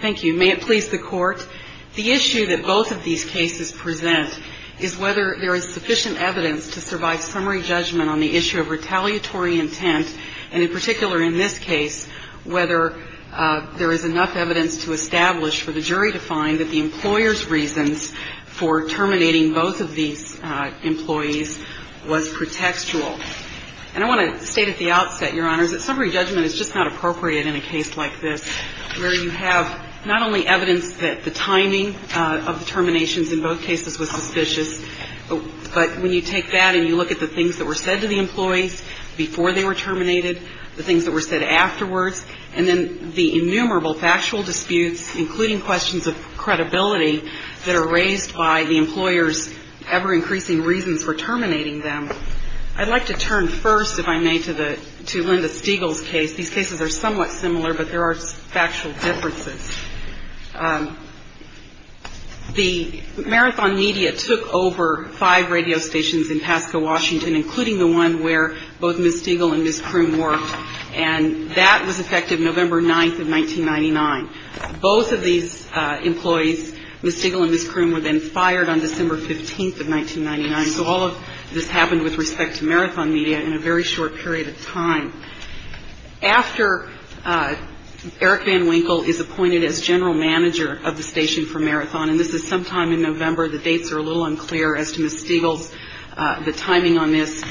Thank you. May it please the Court, the issue that both of these cases present is whether there is sufficient evidence to survive summary judgment on the issue of retaliatory intent, and in particular in this case, whether there is enough evidence to establish for the jury to find that the employer's reasons for terminating both of these employees was pretextual. And I want to state at the outset, Your Honors, that summary judgment is just not appropriate in a case like this, where you have not only evidence that the timing of the terminations in both cases was suspicious, but when you take that and you look at the things that were said to the employees before they were terminated, the things that were said afterwards, and then the innumerable factual disputes, including questions of credibility, that are raised by the employer's ever-increasing reasons for terminating them. I'd like to turn first, if I may, to Linda Stegall's case. These cases are somewhat similar, but there are factual differences. The Marathon Media took over five radio stations in Pasco, Washington, including the one where both Ms. Stegall and Ms. Kroom worked, and that was effective November 9th of 1999. Both of these employees, Ms. Stegall and Ms. Kroom, were then fired on December 15th of 1999, so all of this happened with respect to Marathon Media in a very short period of time. After Eric Van Winkle is appointed as general manager of the station for Marathon, and this is sometime in November, the dates are a little unclear as to Ms. Stegall's, the timing on this,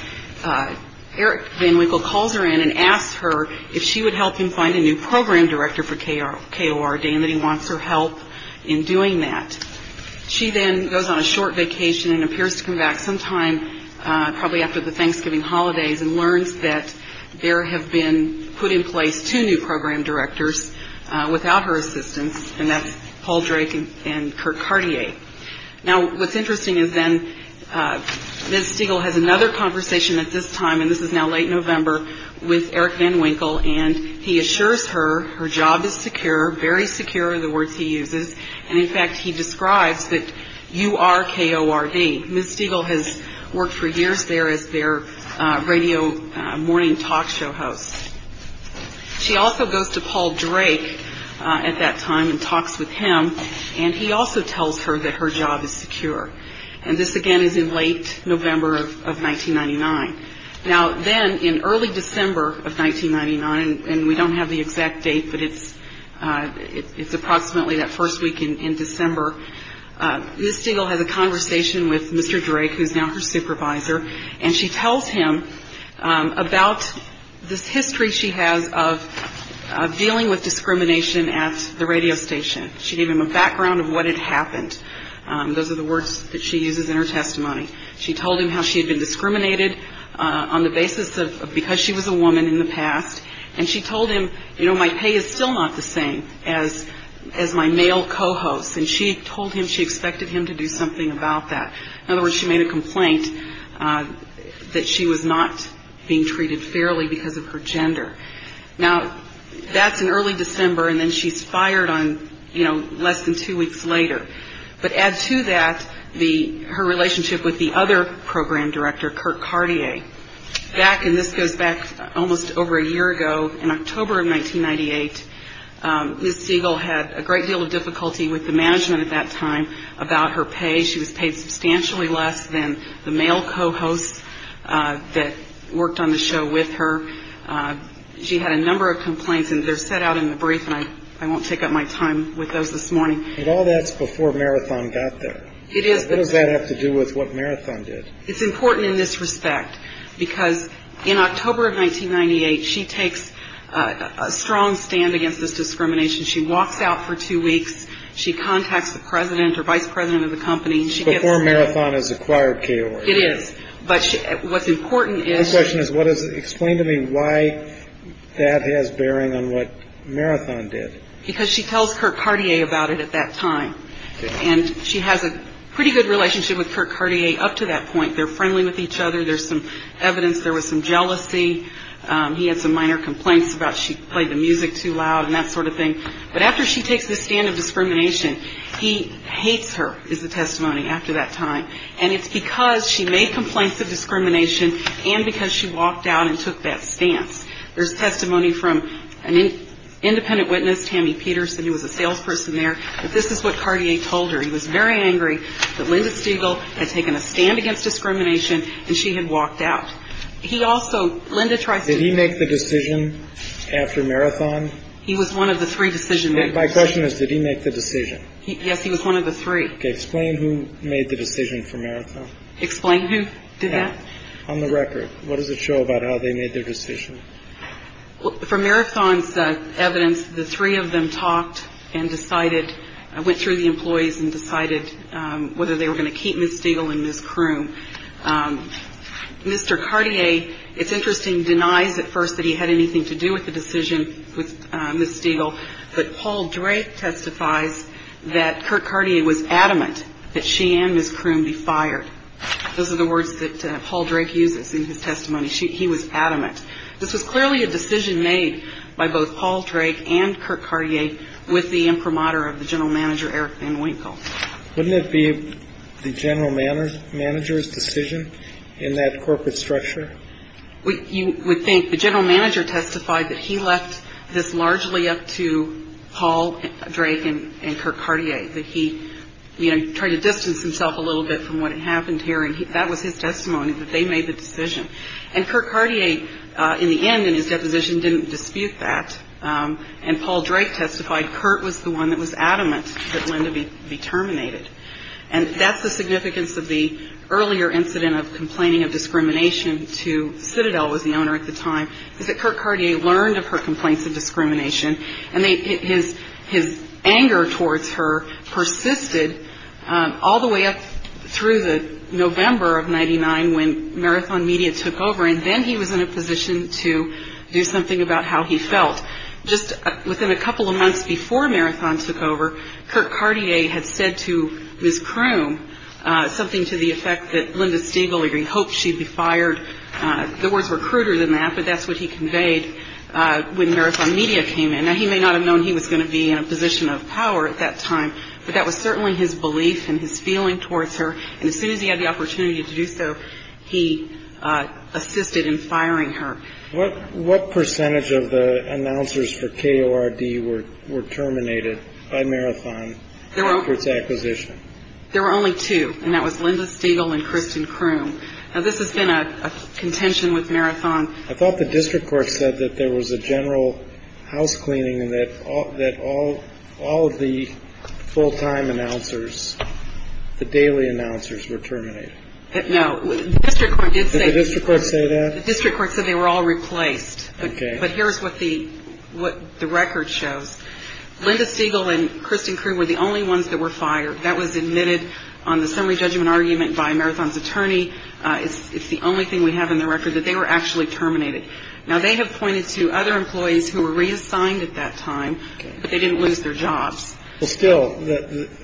Eric Van Winkle calls her in and asks her if she would help him find a new program director for KORD, and that he wants her help in doing that. She then goes on a short vacation and appears to come back sometime probably after the Thanksgiving holidays and learns that there have been put in place two new program directors without her assistance, and that's Paul Drake and Kurt Cartier. Now, what's interesting is then Ms. Stegall has another conversation at this time, and this is now late November, with Eric Van Winkle, and he assures her her job is secure, very secure are the words he uses, and in fact he describes that you are KORD. Ms. Stegall has worked for years there as their radio morning talk show host. She also goes to Paul Drake at that time and talks with him, and he also tells her that her job is secure, and this again is in late November of 1999. Now, then in early December of 1999, and we don't have the exact date, but it's approximately that first week in December, Ms. Stegall has a conversation with Mr. Drake, who is now her supervisor, and she tells him about this history she has of dealing with discrimination at the radio station. She gave him a background of what had happened. Those are the words that she uses in her testimony. She told him how she had been discriminated on the basis of because she was a woman in the past, and she told him, you know, my pay is still not the same as my male co-host, and she told him she expected him to do something about that. In other words, she made a complaint that she was not being treated fairly because of her gender. Now, that's in early December, and then she's fired on, you know, less than two weeks later. But add to that her relationship with the other program director, Kirk Cartier. Back, and this goes back almost over a year ago, in October of 1998, Ms. Stegall had a great deal of difficulty with the management at that time about her pay. She was paid substantially less than the male co-hosts that worked on the show with her. She had a number of complaints, and they're set out in the brief, and I won't take up my time with those this morning. But all that's before Marathon got there. It is. What does that have to do with what Marathon did? It's important in this respect because in October of 1998, she takes a strong stand against this discrimination. She walks out for two weeks. She contacts the president or vice president of the company. Before Marathon has acquired KOR. It is. But what's important is. My question is, explain to me why that has bearing on what Marathon did. Because she tells Kirk Cartier about it at that time. And she has a pretty good relationship with Kirk Cartier up to that point. They're friendly with each other. There's some evidence there was some jealousy. He had some minor complaints about she played the music too loud and that sort of thing. But after she takes the stand of discrimination, he hates her is the testimony after that time. And it's because she made complaints of discrimination and because she walked out and took that stance. There's testimony from an independent witness, Tammy Peterson, who was a salesperson there. But this is what Cartier told her. He was very angry that Linda Stiegel had taken a stand against discrimination and she had walked out. He also Linda tries to make the decision after Marathon. He was one of the three decision. My question is, did he make the decision? Yes, he was one of the three. Explain who made the decision for Marathon. Explain who did that. On the record. What does it show about how they made their decision? For Marathon's evidence, the three of them talked and decided. I went through the employees and decided whether they were going to keep Miss Stiegel in this crew. Mr. Cartier, it's interesting, denies at first that he had anything to do with the decision with Miss Stiegel. But Paul Drake testifies that Kirk Cartier was adamant that she and Miss Kroon be fired. Those are the words that Paul Drake uses in his testimony. He was adamant. This was clearly a decision made by both Paul Drake and Kirk Cartier with the imprimatur of the general manager, Eric Van Winkle. Wouldn't it be the general manager's decision in that corporate structure? You would think the general manager testified that he left this largely up to Paul Drake and Kirk Cartier, that he tried to distance himself a little bit from what happened here. And that was his testimony, that they made the decision. And Kirk Cartier, in the end, in his deposition, didn't dispute that. And Paul Drake testified Kirk was the one that was adamant that Linda be terminated. And that's the significance of the earlier incident of complaining of discrimination to Citadel, was the owner at the time, is that Kirk Cartier learned of her complaints of discrimination. And his anger towards her persisted all the way up through the November of 99 when Marathon Media took over. And then he was in a position to do something about how he felt. Just within a couple of months before Marathon took over, Kirk Cartier had said to Ms. Croom something to the effect that Linda Stiegel, he hoped she'd be fired. The words were cruder than that, but that's what he conveyed when Marathon Media came in. Now, he may not have known he was going to be in a position of power at that time, but that was certainly his belief and his feeling towards her. And as soon as he had the opportunity to do so, he assisted in firing her. What percentage of the announcers for K.O.R.D. were terminated by Marathon after its acquisition? There were only two, and that was Linda Stiegel and Kristen Croom. Now, this has been a contention with Marathon. I thought the district court said that there was a general house cleaning and that all of the full-time announcers, the daily announcers, were terminated. No. The district court did say that. Did the district court say that? The district court said they were all replaced. Okay. But here's what the record shows. Linda Stiegel and Kristen Croom were the only ones that were fired. That was admitted on the summary judgment argument by Marathon's attorney. It's the only thing we have in the record, that they were actually terminated. Now, they have pointed to other employees who were reassigned at that time, but they didn't lose their jobs. Well, still,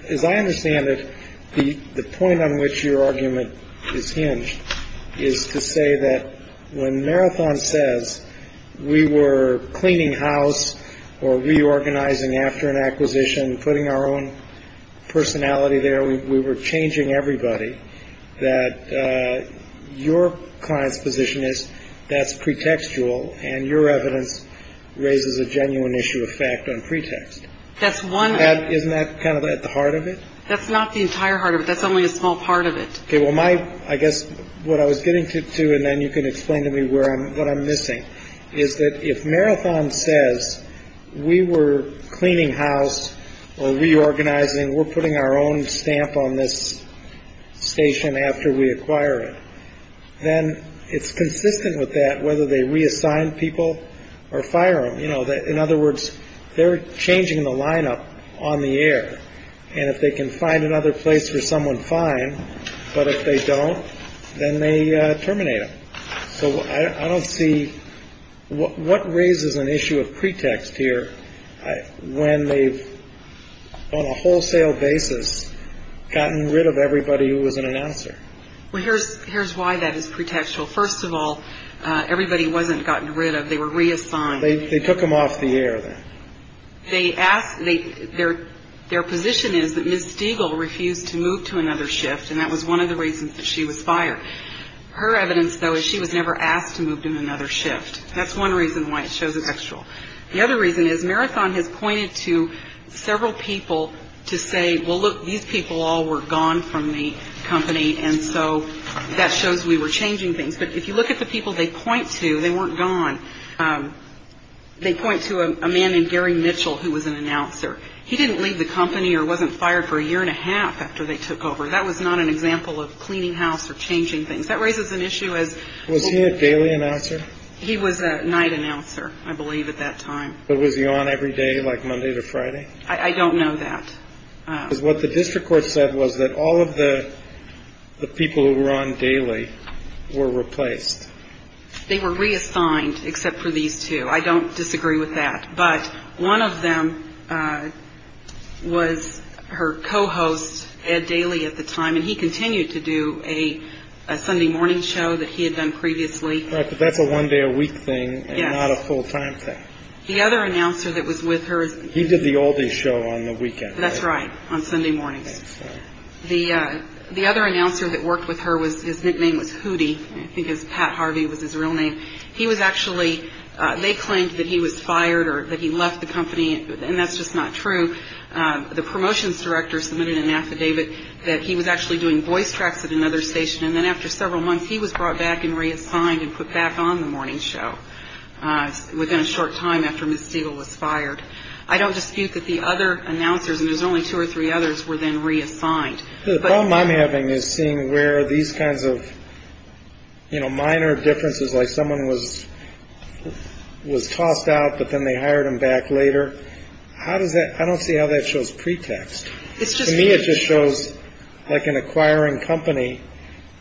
as I understand it, the point on which your argument is hinged is to say that when Marathon says we were cleaning house or reorganizing after an acquisition, putting our own personality there, we were changing everybody, that your client's position is that's pretextual, and your evidence raises a genuine issue of fact on pretext. Isn't that kind of at the heart of it? That's not the entire heart of it. That's only a small part of it. Okay. Well, I guess what I was getting to, and then you can explain to me what I'm missing, is that if Marathon says we were cleaning house or reorganizing, we're putting our own stamp on this station after we acquire it, then it's consistent with that whether they reassign people or fire them. You know, in other words, they're changing the lineup on the air. And if they can find another place for someone, fine. But if they don't, then they terminate them. So I don't see what raises an issue of pretext here when they've on a wholesale basis gotten rid of everybody who was an announcer. Here's why that is pretextual. First of all, everybody wasn't gotten rid of. They were reassigned. They took them off the air then. Their position is that Ms. Stiegel refused to move to another shift, and that was one of the reasons that she was fired. Her evidence, though, is she was never asked to move to another shift. That's one reason why it shows a textual. The other reason is Marathon has pointed to several people to say, well, look, these people all were gone from the company, and so that shows we were changing things. But if you look at the people they point to, they weren't gone. They point to a man named Gary Mitchell, who was an announcer. He didn't leave the company or wasn't fired for a year and a half after they took over. That was not an example of cleaning house or changing things. That raises an issue as was he a daily announcer. He was a night announcer, I believe, at that time. Was he on every day like Monday to Friday? I don't know that. Because what the district court said was that all of the people who were on daily were replaced. They were reassigned, except for these two. I don't disagree with that. But one of them was her co-host, Ed Daly, at the time, and he continued to do a Sunday morning show that he had done previously. Right, but that's a one-day-a-week thing and not a full-time thing. Yes. The other announcer that was with her. He did the all-day show on the weekend, right? That's right, on Sunday mornings. The other announcer that worked with her, his nickname was Hootie. I think Pat Harvey was his real name. He was actually, they claimed that he was fired or that he left the company, and that's just not true. The promotions director submitted an affidavit that he was actually doing voice tracks at another station, and then after several months he was brought back and reassigned and put back on the morning show within a short time after Ms. Stegall was fired. I don't dispute that the other announcers, and there's only two or three others, were then reassigned. The problem I'm having is seeing where these kinds of minor differences, like someone was tossed out but then they hired him back later. I don't see how that shows pretext. To me it just shows like an acquiring company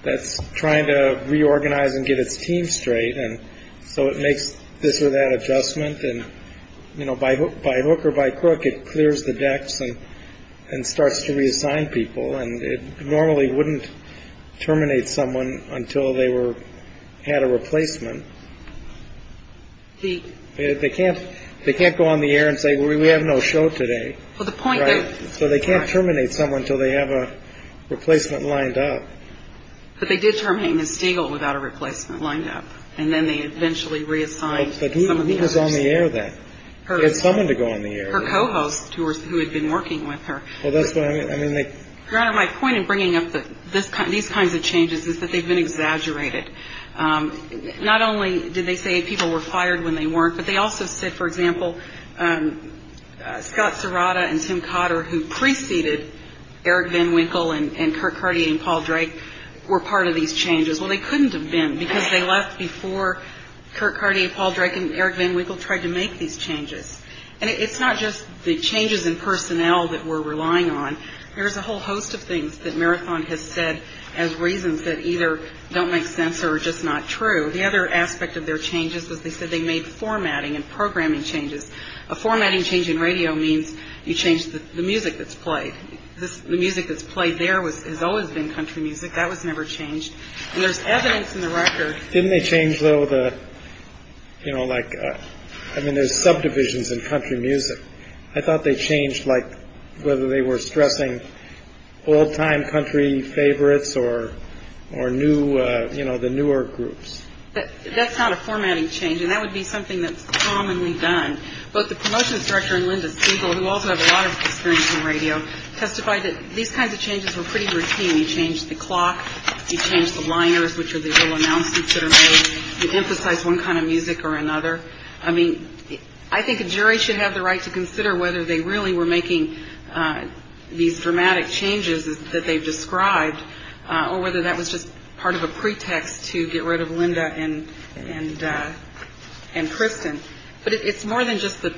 that's trying to reorganize and get its team straight, and so it makes this or that adjustment, and by hook or by crook it clears the decks and starts to reassign people, and it normally wouldn't terminate someone until they had a replacement. They can't go on the air and say, we have no show today. So they can't terminate someone until they have a replacement lined up. But they did terminate Ms. Stegall without a replacement lined up, and then they eventually reassigned some of the hosts. But who was on the air then? They had someone to go on the air. Her co-hosts who had been working with her. Well, that's what I mean. Your Honor, my point in bringing up these kinds of changes is that they've been exaggerated. Not only did they say people were fired when they weren't, but they also said, for example, Scott Serrata and Tim Cotter who preceded Eric Van Winkle and Kurt Cartier and Paul Drake were part of these changes. Well, they couldn't have been because they left before Kurt Cartier, Paul Drake, and Eric Van Winkle tried to make these changes. And it's not just the changes in personnel that we're relying on. There's a whole host of things that Marathon has said as reasons that either don't make sense or are just not true. The other aspect of their changes was they said they made formatting and programming changes. A formatting change in radio means you change the music that's played. The music that's played there has always been country music. That was never changed. And there's evidence in the record. Didn't they change, though, the, you know, like, I mean, there's subdivisions in country music. I thought they changed like whether they were stressing old time country favorites or or new, you know, the newer groups. That's not a formatting change. And that would be something that's commonly done. But the promotion structure and Linda Siegel, who also have a lot of experience in radio, testified that these kinds of changes were pretty routine. We changed the clock. You change the liners, which are the announcements that are made. You emphasize one kind of music or another. I mean, I think a jury should have the right to consider whether they really were making these dramatic changes that they've described or whether that was just part of a pretext to get rid of Linda and and and Kristen. But it's more than just the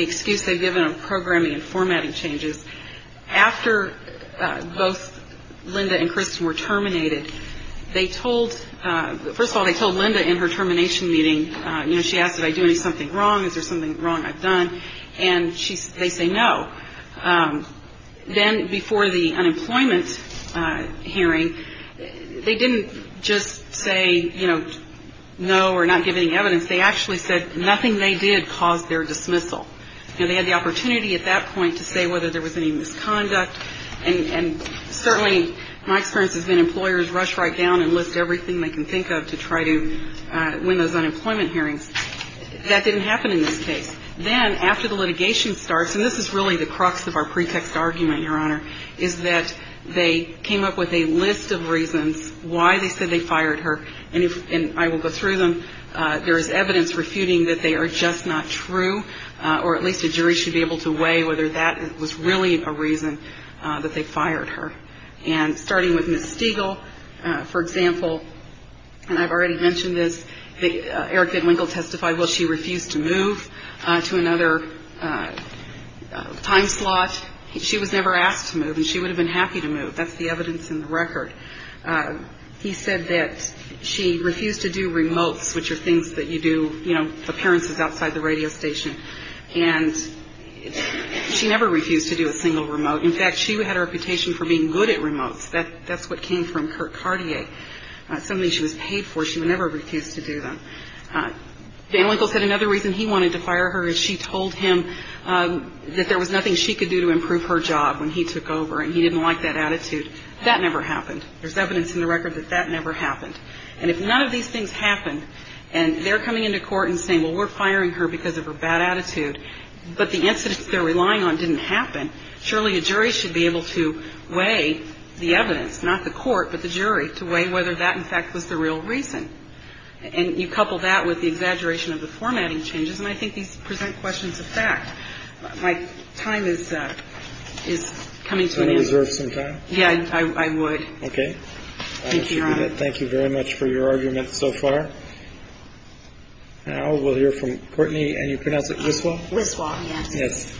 excuse they've given of programming and formatting changes. After both Linda and Kristen were terminated, they told first of all, they told Linda in her termination meeting, you know, she asked, did I do something wrong? Is there something wrong I've done? And she they say no. Then before the unemployment hearing, they didn't just say, you know, no, we're not giving evidence. They actually said nothing. They did cause their dismissal. And they had the opportunity at that point to say whether there was any misconduct. And certainly my experience has been employers rush right down and list everything they can think of to try to win those unemployment hearings. That didn't happen in this case. Then after the litigation starts, and this is really the crux of our pretext argument, Your Honor, is that they came up with a list of reasons why they said they fired her. And if I will go through them, there is evidence refuting that they are just not true, or at least a jury should be able to weigh whether that was really a reason that they fired her. And starting with Miss Stiegel, for example, and I've already mentioned this, Eric Bidwinkle testified, well, she refused to move to another time slot. She was never asked to move and she would have been happy to move. That's the evidence in the record. He said that she refused to do remotes, which are things that you do, you know, appearances outside the radio station. And she never refused to do a single remote. In fact, she had a reputation for being good at remotes. That's what came from Kurt Cartier, something she was paid for. She would never refuse to do that. Bidwinkle said another reason he wanted to fire her is she told him that there was nothing she could do to improve her job when he took over. And he didn't like that attitude. That never happened. There's evidence in the record that that never happened. And if none of these things happened and they're coming into court and saying, well, we're firing her because of her bad attitude, but the incidents they're relying on didn't happen, surely a jury should be able to weigh the evidence, not the court, but the jury, to weigh whether that, in fact, was the real reason. And you couple that with the exaggeration of the formatting changes, and I think these present questions of fact. My time is coming to an end. Can you reserve some time? Yeah, I would. Okay. Thank you, Your Honor. Thank you very much for your argument so far. Now we'll hear from Courtney. And you pronounce it Wislaw? Wislaw, yes. Yes.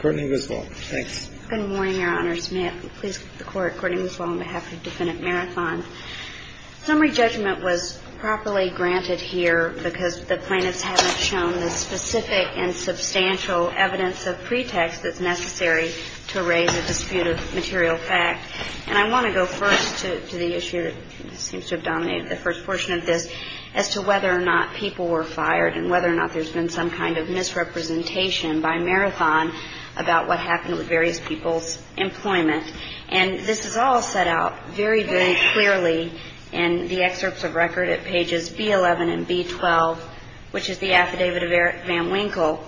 Courtney Wislaw. Thanks. Good morning, Your Honors. May I please get the court, Courtney Wislaw, on behalf of Defendant Marathon. Summary judgment was properly granted here because the plaintiffs haven't shown the specific and substantial evidence of pretext that's necessary to raise a dispute of material fact. And I want to go first to the issue that seems to have dominated the first portion of this, as to whether or not people were fired and whether or not there's been some kind of misrepresentation by Marathon about what happened with various people's employment. And this is all set out very, very clearly in the excerpts of record at pages B-11 and B-12, which is the affidavit of Van Winkle.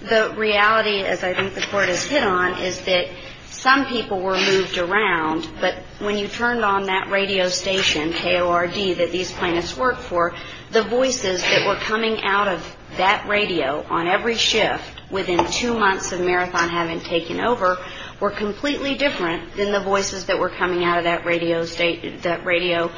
The reality, as I think the court has hit on, is that some people were moved around, but when you turned on that radio station, KORD, that these plaintiffs worked for, the voices that were coming out of that radio on every shift within two months of Marathon having taken over were completely different than the voices that were coming out of that radio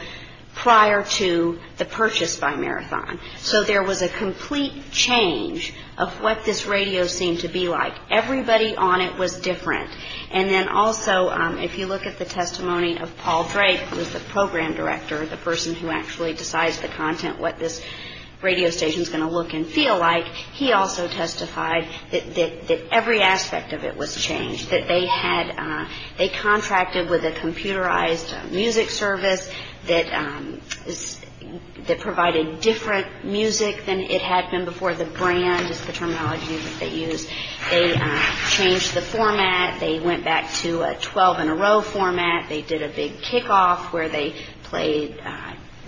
prior to the purchase by Marathon. So there was a complete change of what this radio seemed to be like. Everybody on it was different. And then also, if you look at the testimony of Paul Drake, who was the program director, the person who actually decides the content, what this radio station is going to look and feel like, he also testified that every aspect of it was changed, that they contracted with a computerized music service that provided different music than it had been before. The brand is the terminology that they used. They changed the format. They went back to a 12-in-a-row format. They did a big kickoff where they played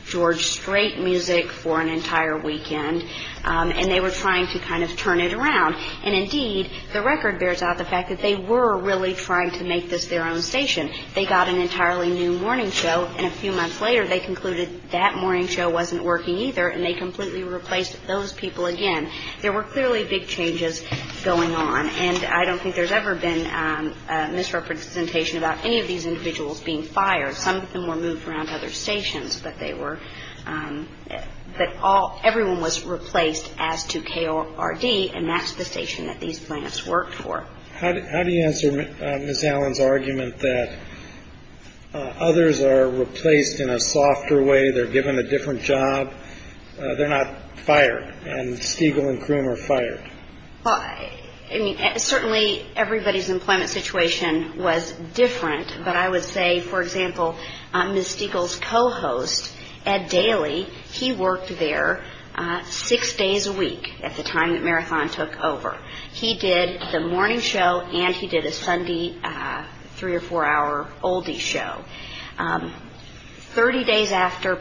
George Strait music for an entire weekend. And they were trying to kind of turn it around. And indeed, the record bears out the fact that they were really trying to make this their own station. They got an entirely new morning show. And a few months later, they concluded that morning show wasn't working either, and they completely replaced those people again. There were clearly big changes going on. And I don't think there's ever been a misrepresentation about any of these individuals being fired. Some of them were moved around to other stations. But everyone was replaced as to KORD, and that's the station that these plants worked for. How do you answer Ms. Allen's argument that others are replaced in a softer way, they're given a different job, they're not fired, and Stiegel and Croom are fired? I mean, certainly everybody's employment situation was different. But I would say, for example, Ms. Stiegel's co-host, Ed Daly, he worked there six days a week at the time that Marathon took over. He did the morning show and he did a Sunday three- or four-hour oldie show. Thirty days after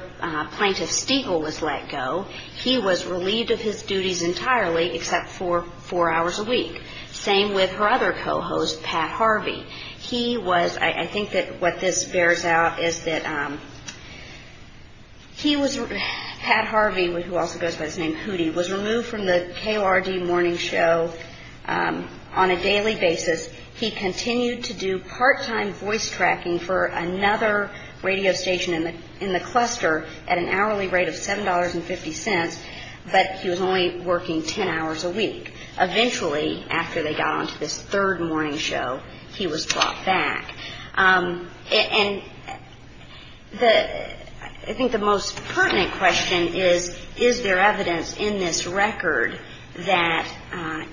Plaintiff Stiegel was let go, he was relieved of his duties entirely except for four hours a week. Same with her other co-host, Pat Harvey. He was ‑‑ I think that what this bears out is that he was ‑‑ Pat Harvey, who also goes by the name Hootie, was removed from the KORD morning show on a daily basis. He continued to do part-time voice tracking for another radio station in the cluster at an hourly rate of $7.50, but he was only working ten hours a week. Eventually, after they got on to this third morning show, he was brought back. And the ‑‑ I think the most pertinent question is, is there evidence in this record that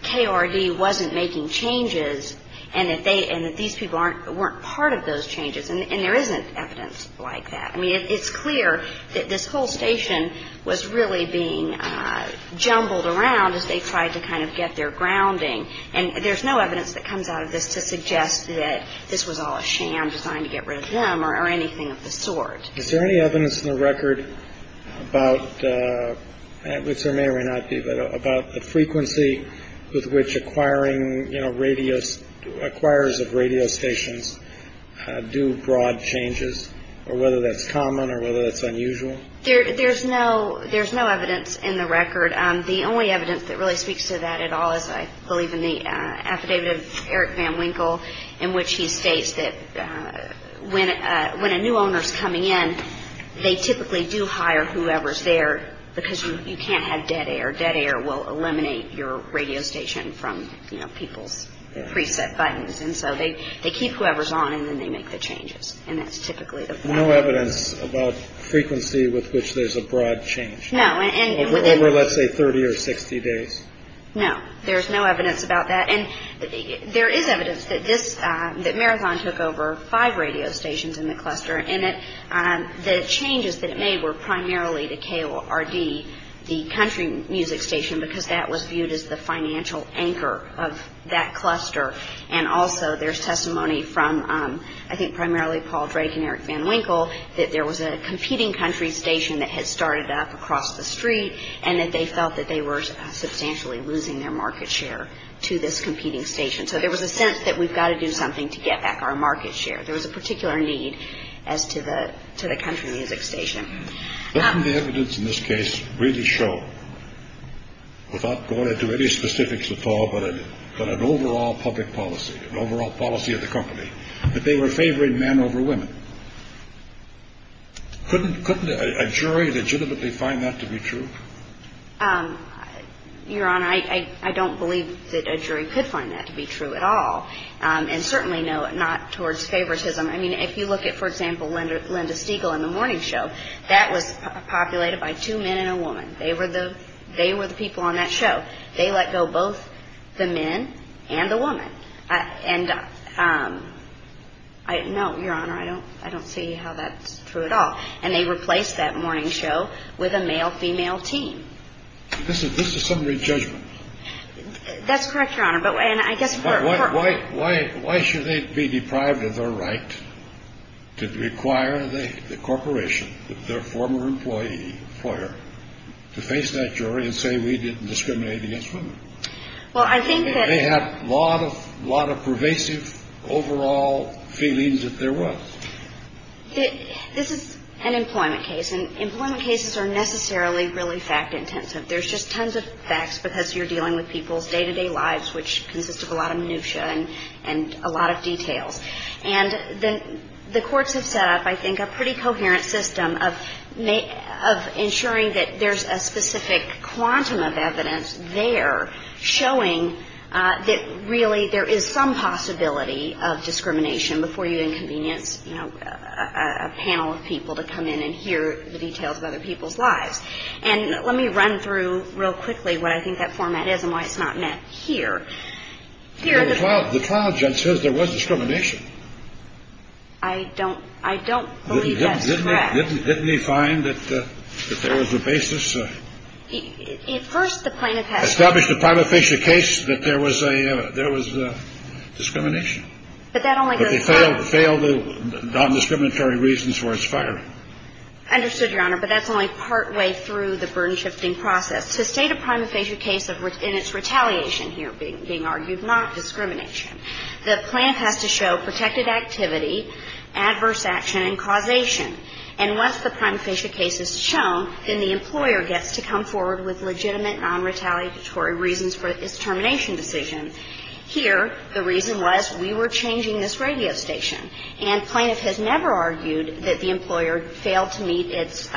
KORD wasn't making changes and that these people weren't part of those changes? And there isn't evidence like that. I mean, it's clear that this whole station was really being jumbled around as they tried to kind of get their grounding. And there's no evidence that comes out of this to suggest that this was all a sham designed to get rid of them or anything of the sort. Is there any evidence in the record about, which there may or may not be, but about the frequency with which acquiring, you know, radio ‑‑ acquirers of radio stations do broad changes, or whether that's common or whether that's unusual? There's no ‑‑ there's no evidence in the record. The only evidence that really speaks to that at all is, I believe, in the affidavit of Eric Van Winkle, in which he states that when a new owner is coming in, they typically do hire whoever's there because you can't have dead air. Dead air will eliminate your radio station from, you know, people's preset buttons. And so they keep whoever's on and then they make the changes. And that's typically the point. No evidence about frequency with which there's a broad change. No. Over, let's say, 30 or 60 days. No. There's no evidence about that. And there is evidence that this, that Marathon took over five radio stations in the cluster, and that the changes that it made were primarily to KORD, the country music station, because that was viewed as the financial anchor of that cluster. And also there's testimony from, I think, primarily Paul Drake and Eric Van Winkle, that there was a competing country station that had started up across the street and that they felt that they were substantially losing their market share to this competing station. So there was a sense that we've got to do something to get back our market share. There was a particular need as to the country music station. Didn't the evidence in this case really show, without going into any specifics at all, but an overall public policy, an overall policy of the company, that they were favoring men over women? Couldn't a jury legitimately find that to be true? Your Honor, I don't believe that a jury could find that to be true at all. And certainly not towards favoritism. I mean, if you look at, for example, Linda Stiegel and The Morning Show, that was populated by two men and a woman. They were the people on that show. They let go both the men and the woman. No, Your Honor, I don't see how that's true at all. And they replaced That Morning Show with a male-female team. This is summary judgment. That's correct, Your Honor. Why should they be deprived of their right to require the corporation, their former employer, to face that jury and say we didn't discriminate against women? They had a lot of pervasive overall feelings that there was. This is an employment case, and employment cases are necessarily really fact-intensive. There's just tons of facts because you're dealing with people's day-to-day lives, which consists of a lot of minutia and a lot of details. And the courts have set up, I think, a pretty coherent system of ensuring that there's a specific quantum of evidence there showing that really there is some possibility of discrimination before you inconvenience, you know, a panel of people to come in and hear the details of other people's lives. And let me run through real quickly what I think that format is and why it's not met here. The cloud judge says there was discrimination. I don't believe that's correct. Didn't he find that there was a basis? At first, the plaintiff had established a prima facie case that there was discrimination. But that only goes far. But they failed the non-discriminatory reasons for its firing. Understood, Your Honor. But that's only partway through the burden-shifting process. To state a prima facie case in its retaliation here being argued, not discrimination, the plaintiff has to show protected activity, adverse action, and causation. And once the prima facie case is shown, then the employer gets to come forward with legitimate, non-retaliatory reasons for its termination decision. Here, the reason was we were changing this radio station. And plaintiff has never argued that the employer failed to meet its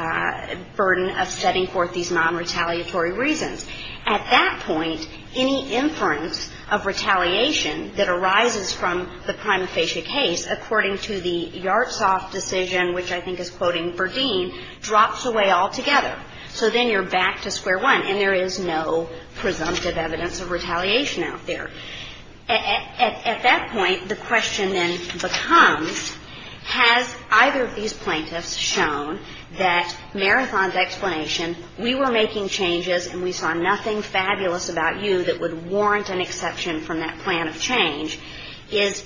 burden of setting forth these non-retaliatory reasons. At that point, any inference of retaliation that arises from the prima facie case, according to the Yartsoff decision, which I think is quoting Verdeen, drops away altogether. So then you're back to square one. And there is no presumptive evidence of retaliation out there. At that point, the question then becomes, has either of these plaintiffs shown that Marathon's explanation, we were making changes and we saw nothing fabulous about you that would warrant an exception from that plan of change, is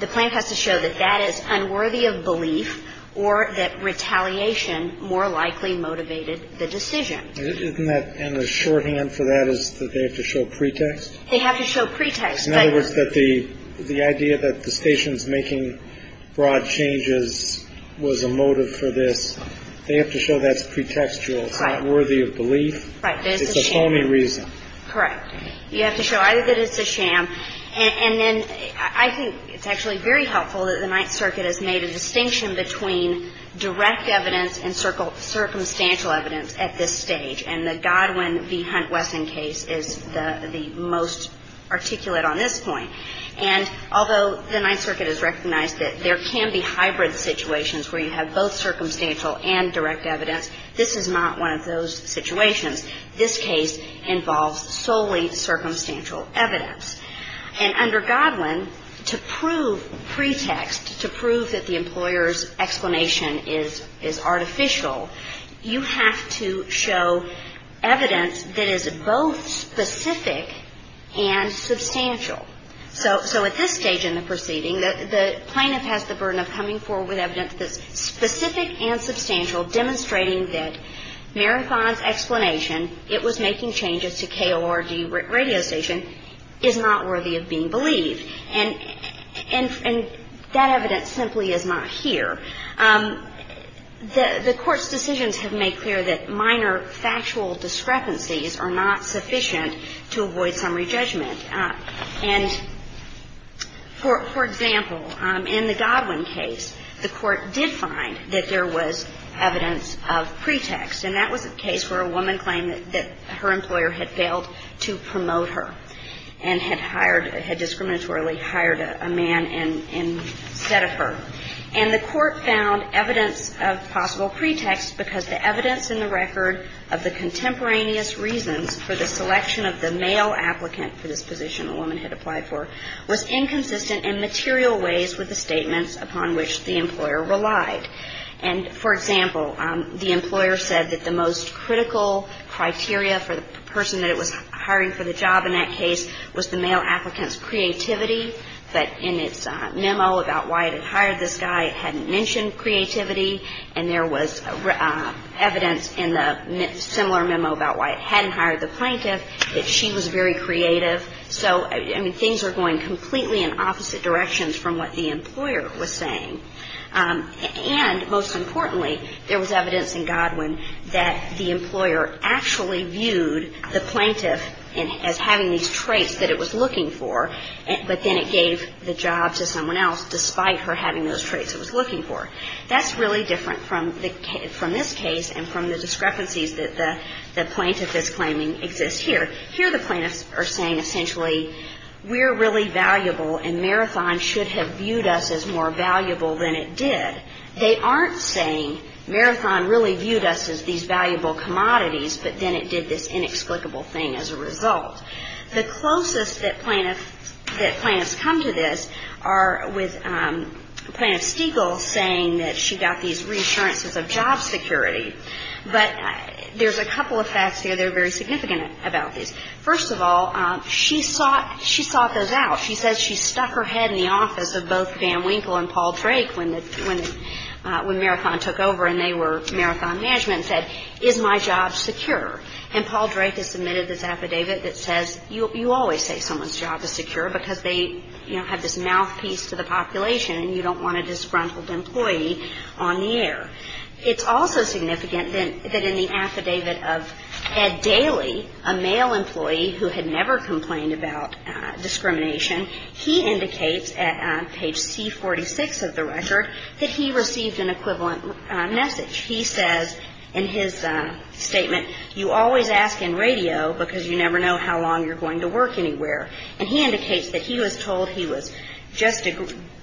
the plaintiff has to show that that is unworthy of belief or that retaliation more likely motivated the decision. And the shorthand for that is that they have to show pretext? They have to show pretext. In other words, that the idea that the station's making broad changes was a motive for this, they have to show that's pretextual. It's not worthy of belief. Right. It's a phony reason. Correct. You have to show either that it's a sham. And then I think it's actually very helpful that the Ninth Circuit has made a distinction between direct evidence and circumstantial evidence at this stage. And the Godwin v. Hunt-Wesson case is the most articulate on this point. And although the Ninth Circuit has recognized that there can be hybrid situations where you have both circumstantial and direct evidence, this is not one of those situations. This case involves solely circumstantial evidence. And under Godwin, to prove pretext, to prove that the employer's explanation is artificial, you have to show evidence that is both specific and substantial. So at this stage in the proceeding, the plaintiff has the burden of coming forward with evidence that's specific and substantial, demonstrating that Mary Fon's explanation, it was making changes to KORG radio station, is not worthy of being believed. And that evidence simply is not here. The Court's decisions have made clear that minor factual discrepancies are not sufficient to avoid summary judgment. And, for example, in the Godwin case, the Court did find that there was evidence of pretext, and that was a case where a woman claimed that her employer had failed to promote her and had hired, had discriminatorily hired a man instead of her. And the Court found evidence of possible pretext because the evidence in the record of the contemporaneous reasons for the selection of the male applicant for this position a woman had applied for was inconsistent in material ways with the statements upon which the employer relied. And, for example, the employer said that the most critical criteria for the person that it was hiring for the job in that case was the male applicant's creativity, but in its memo about why it had hired this guy, it hadn't mentioned creativity. And there was evidence in the similar memo about why it hadn't hired the plaintiff, that she was very creative. So, I mean, things are going completely in opposite directions from what the employer was saying. And, most importantly, there was evidence in Godwin that the employer actually was looking for, but then it gave the job to someone else despite her having those traits it was looking for. That's really different from this case and from the discrepancies that the plaintiff is claiming exist here. Here the plaintiffs are saying essentially we're really valuable and Marathon should have viewed us as more valuable than it did. They aren't saying Marathon really viewed us as these valuable commodities, but then it did this inexplicable thing as a result. The closest that plaintiffs come to this are with Plaintiff Stegall saying that she got these reassurances of job security. But there's a couple of facts here that are very significant about this. First of all, she sought those out. She says she stuck her head in the office of both Van Winkle and Paul Drake when Marathon took over and they were Marathon management and said, is my job secure? And Paul Drake has submitted this affidavit that says you always say someone's job is secure because they have this mouthpiece to the population and you don't want a disgruntled employee on the air. It's also significant that in the affidavit of Ed Daly, a male employee who had never complained about discrimination, he indicates at page C46 of the record that he received an equivalent message. He says in his statement, you always ask in radio because you never know how long you're going to work anywhere. And he indicates that he was told he was just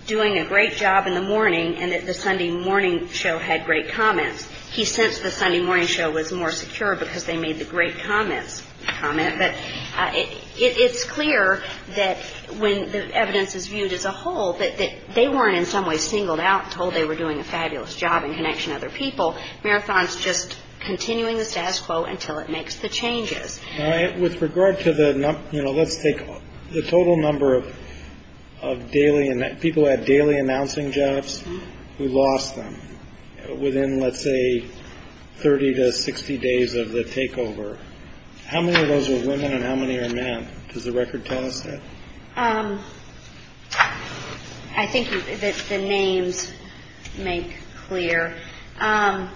doing a great job in the morning and that the Sunday morning show had great comments. He sensed the Sunday morning show was more secure because they made the great comments comment. But it's clear that when the evidence is viewed as a whole, that they weren't in some way singled out, told they were doing a fabulous job in connection to other people. Marathon's just continuing the status quo until it makes the changes. With regard to the, you know, let's take the total number of people who had daily announcing jobs, who lost them within, let's say, 30 to 60 days of the takeover. How many of those were women and how many are men? Does the record tell us that? I think that the names make clear. And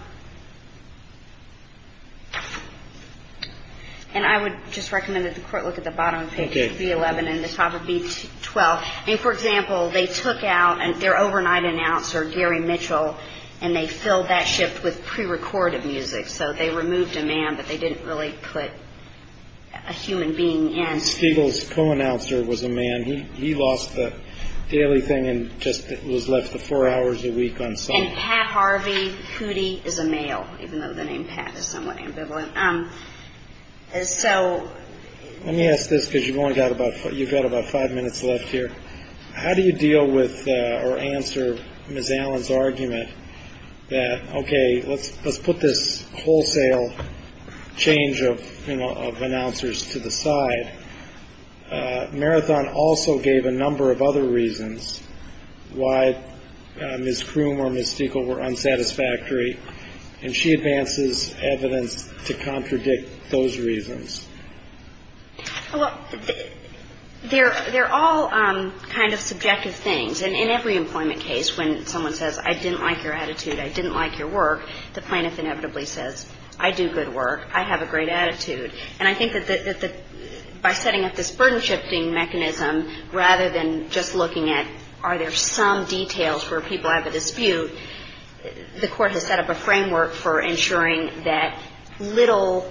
I would just recommend that the court look at the bottom of page B11 and the top of B12. And, for example, they took out their overnight announcer, Gary Mitchell, and they filled that shift with prerecorded music. So they removed a man, but they didn't really put a human being in. Pete Stegall's co-announcer was a man. He lost the daily thing and just was left with four hours a week on Sunday. And Pat Harvey Hootie is a male, even though the name Pat is somewhat ambivalent. So. Let me ask this because you've only got about you've got about five minutes left here. How do you deal with or answer Ms. Allen's argument that, OK, let's let's put this wholesale change of announcers to the side? Marathon also gave a number of other reasons why Ms. Kroom or Ms. Stegall were unsatisfactory, and she advances evidence to contradict those reasons. Well, they're all kind of subjective things. And in every employment case, when someone says, I didn't like your attitude, I didn't like your work, the plaintiff inevitably says, I do good work, I have a great attitude. And I think that by setting up this burden shifting mechanism, rather than just looking at, are there some details where people have a dispute, the court has set up a framework for ensuring that little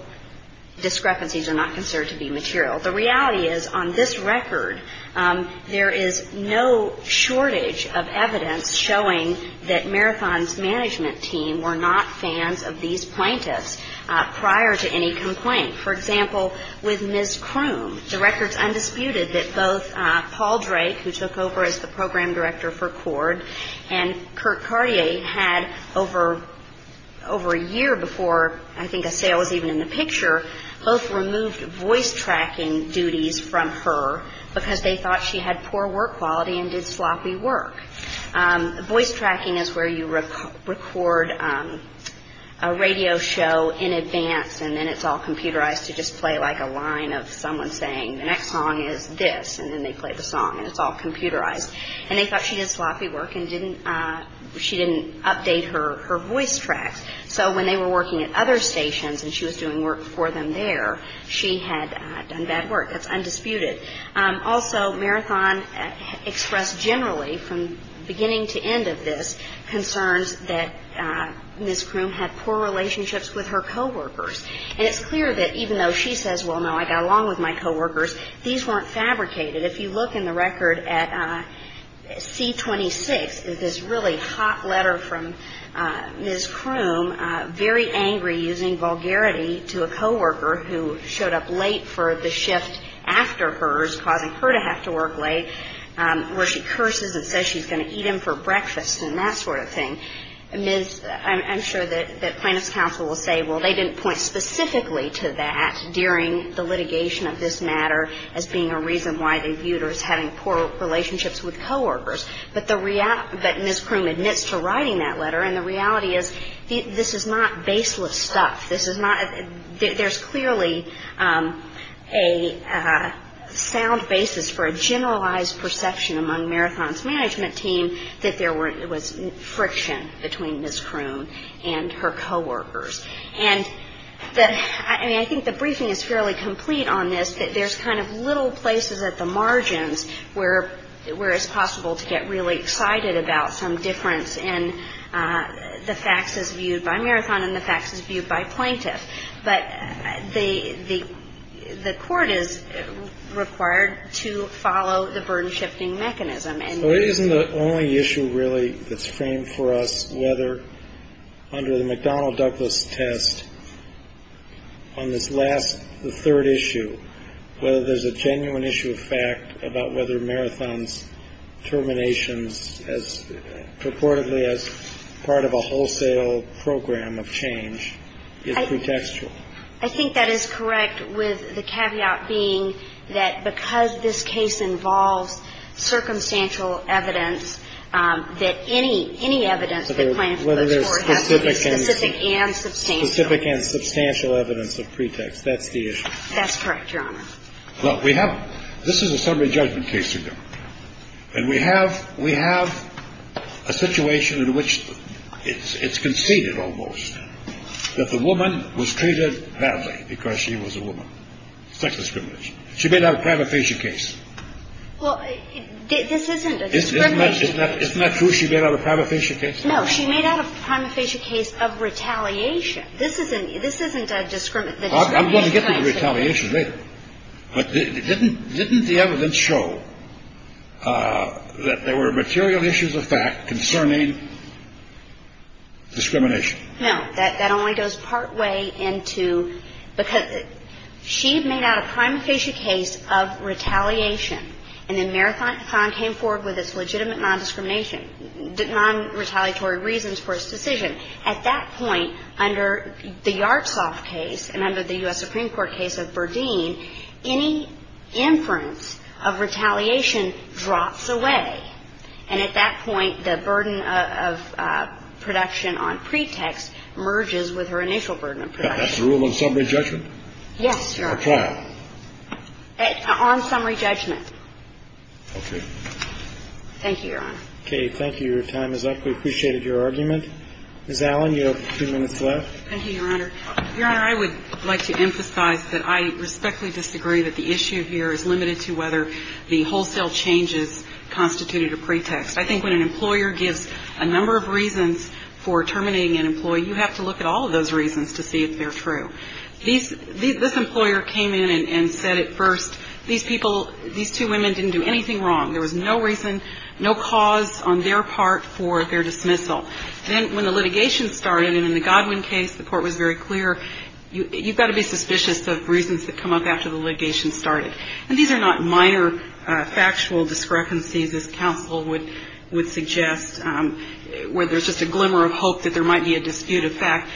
discrepancies are not considered to be material. The reality is, on this record, there is no shortage of evidence showing that Marathon's management team were not fans of these plaintiffs prior to any complaint. For example, with Ms. Kroom, the record's undisputed that both Paul Drake, who took over as the program director for CORD, and Kurt Cartier had over a year before I think a sale was even in the picture, both removed voice tracking duties from her because they thought she had poor work quality and did sloppy work. Voice tracking is where you record a radio show in advance, and then it's all computerized to just play like a line of someone saying, the next song is this, and then they play the song, and it's all computerized. And they thought she did sloppy work and she didn't update her voice tracks. So when they were working at other stations and she was doing work for them there, she had done bad work. That's undisputed. Also, Marathon expressed generally, from beginning to end of this, concerns that Ms. Kroom had poor relationships with her coworkers. And it's clear that even though she says, well, no, I got along with my coworkers, these weren't fabricated. If you look in the record at C-26, there's this really hot letter from Ms. Kroom, very angry, using vulgarity to a coworker who showed up late for the shift after hers, causing her to have to work late, where she curses and says she's going to eat him for breakfast and that sort of thing. I'm sure that plaintiff's counsel will say, well, they didn't point specifically to that during the litigation of this matter as being a reason why they viewed her as having poor relationships with coworkers. But Ms. Kroom admits to writing that letter. And the reality is this is not baseless stuff. There's clearly a sound basis for a generalized perception among Marathon's management team that there was friction between Ms. Kroom and her coworkers. And I think the briefing is fairly complete on this, that there's kind of little places at the margins where it's possible to get really excited about some difference in the facts as viewed by Marathon and the facts as viewed by plaintiff. But the court is required to follow the burden-shifting mechanism. So it isn't the only issue, really, that's framed for us, whether under the McDonnell-Douglas test on this last, the third issue, whether there's a genuine issue of fact about whether Marathon's terminations, as purportedly as part of a wholesale program of change, is pretextual. I think that is correct, with the caveat being that because this case involves circumstantial evidence, that any evidence that plaintiffs put forward has to be specific and substantial. Specific and substantial evidence of pretext. That's the issue. That's correct, Your Honor. This is a summary judgment case, and we have a situation in which it's conceded almost that the woman was treated badly because she was a woman. Sex discrimination. She made out a prima facie case. Well, this isn't a discrimination case. Isn't that true, she made out a prima facie case? No, she made out a prima facie case of retaliation. This isn't a discrimination case. I'm going to get to the retaliation later. But didn't the evidence show that there were material issues of fact concerning discrimination? No. That only goes partway into because she made out a prima facie case of retaliation, and then Marathon came forward with its legitimate non-discrimination, non-retaliatory reasons for its decision. At that point, under the Yartsov case and under the U.S. Supreme Court case of Berdeen, any inference of retaliation drops away. And at that point, the burden of production on pretext merges with her initial burden of production. That's the rule on summary judgment? Yes, Your Honor. Or trial? On summary judgment. Okay. Thank you, Your Honor. Okay. Your time is up. We appreciated your argument. Ms. Allen, you have a few minutes left. Thank you, Your Honor. Your Honor, I would like to emphasize that I respectfully disagree that the issue here is limited to whether the wholesale changes constituted a pretext. I think when an employer gives a number of reasons for terminating an employee, you have to look at all of those reasons to see if they're true. This employer came in and said at first, these people, these two women didn't do anything wrong. There was no reason, no cause on their part for their dismissal. Then when the litigation started, and in the Godwin case, the court was very clear, you've got to be suspicious of reasons that come up after the litigation started. And these are not minor factual discrepancies, as counsel would suggest, where there's just a glimmer of hope that there might be a dispute. In fact,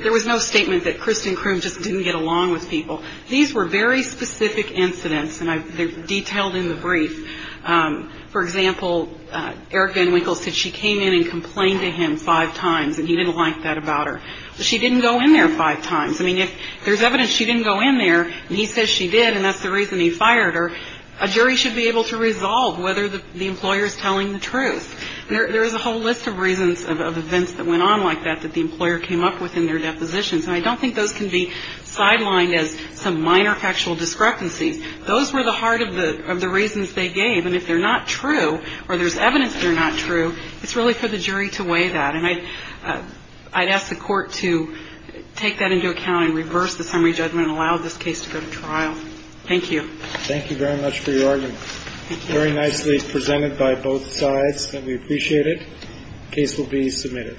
there was no statement that Kristen Kroom just didn't get along with people. These were very specific incidents, and they're detailed in the brief. For example, Eric Van Winkle said she came in and complained to him five times, and he didn't like that about her. She didn't go in there five times. I mean, if there's evidence she didn't go in there, and he says she did, and that's the reason he fired her, a jury should be able to resolve whether the employer is telling the truth. There is a whole list of reasons of events that went on like that that the employer came up with in their depositions, and I don't think those can be sidelined as some minor factual discrepancies. Those were the heart of the reasons they gave, and if they're not true or there's evidence they're not true, it's really for the jury to weigh that. And I'd ask the Court to take that into account and reverse the summary judgment and allow this case to go to trial. Thank you. Thank you very much for your argument. Thank you. Very nicely presented by both sides, and we appreciate it. The case will be submitted.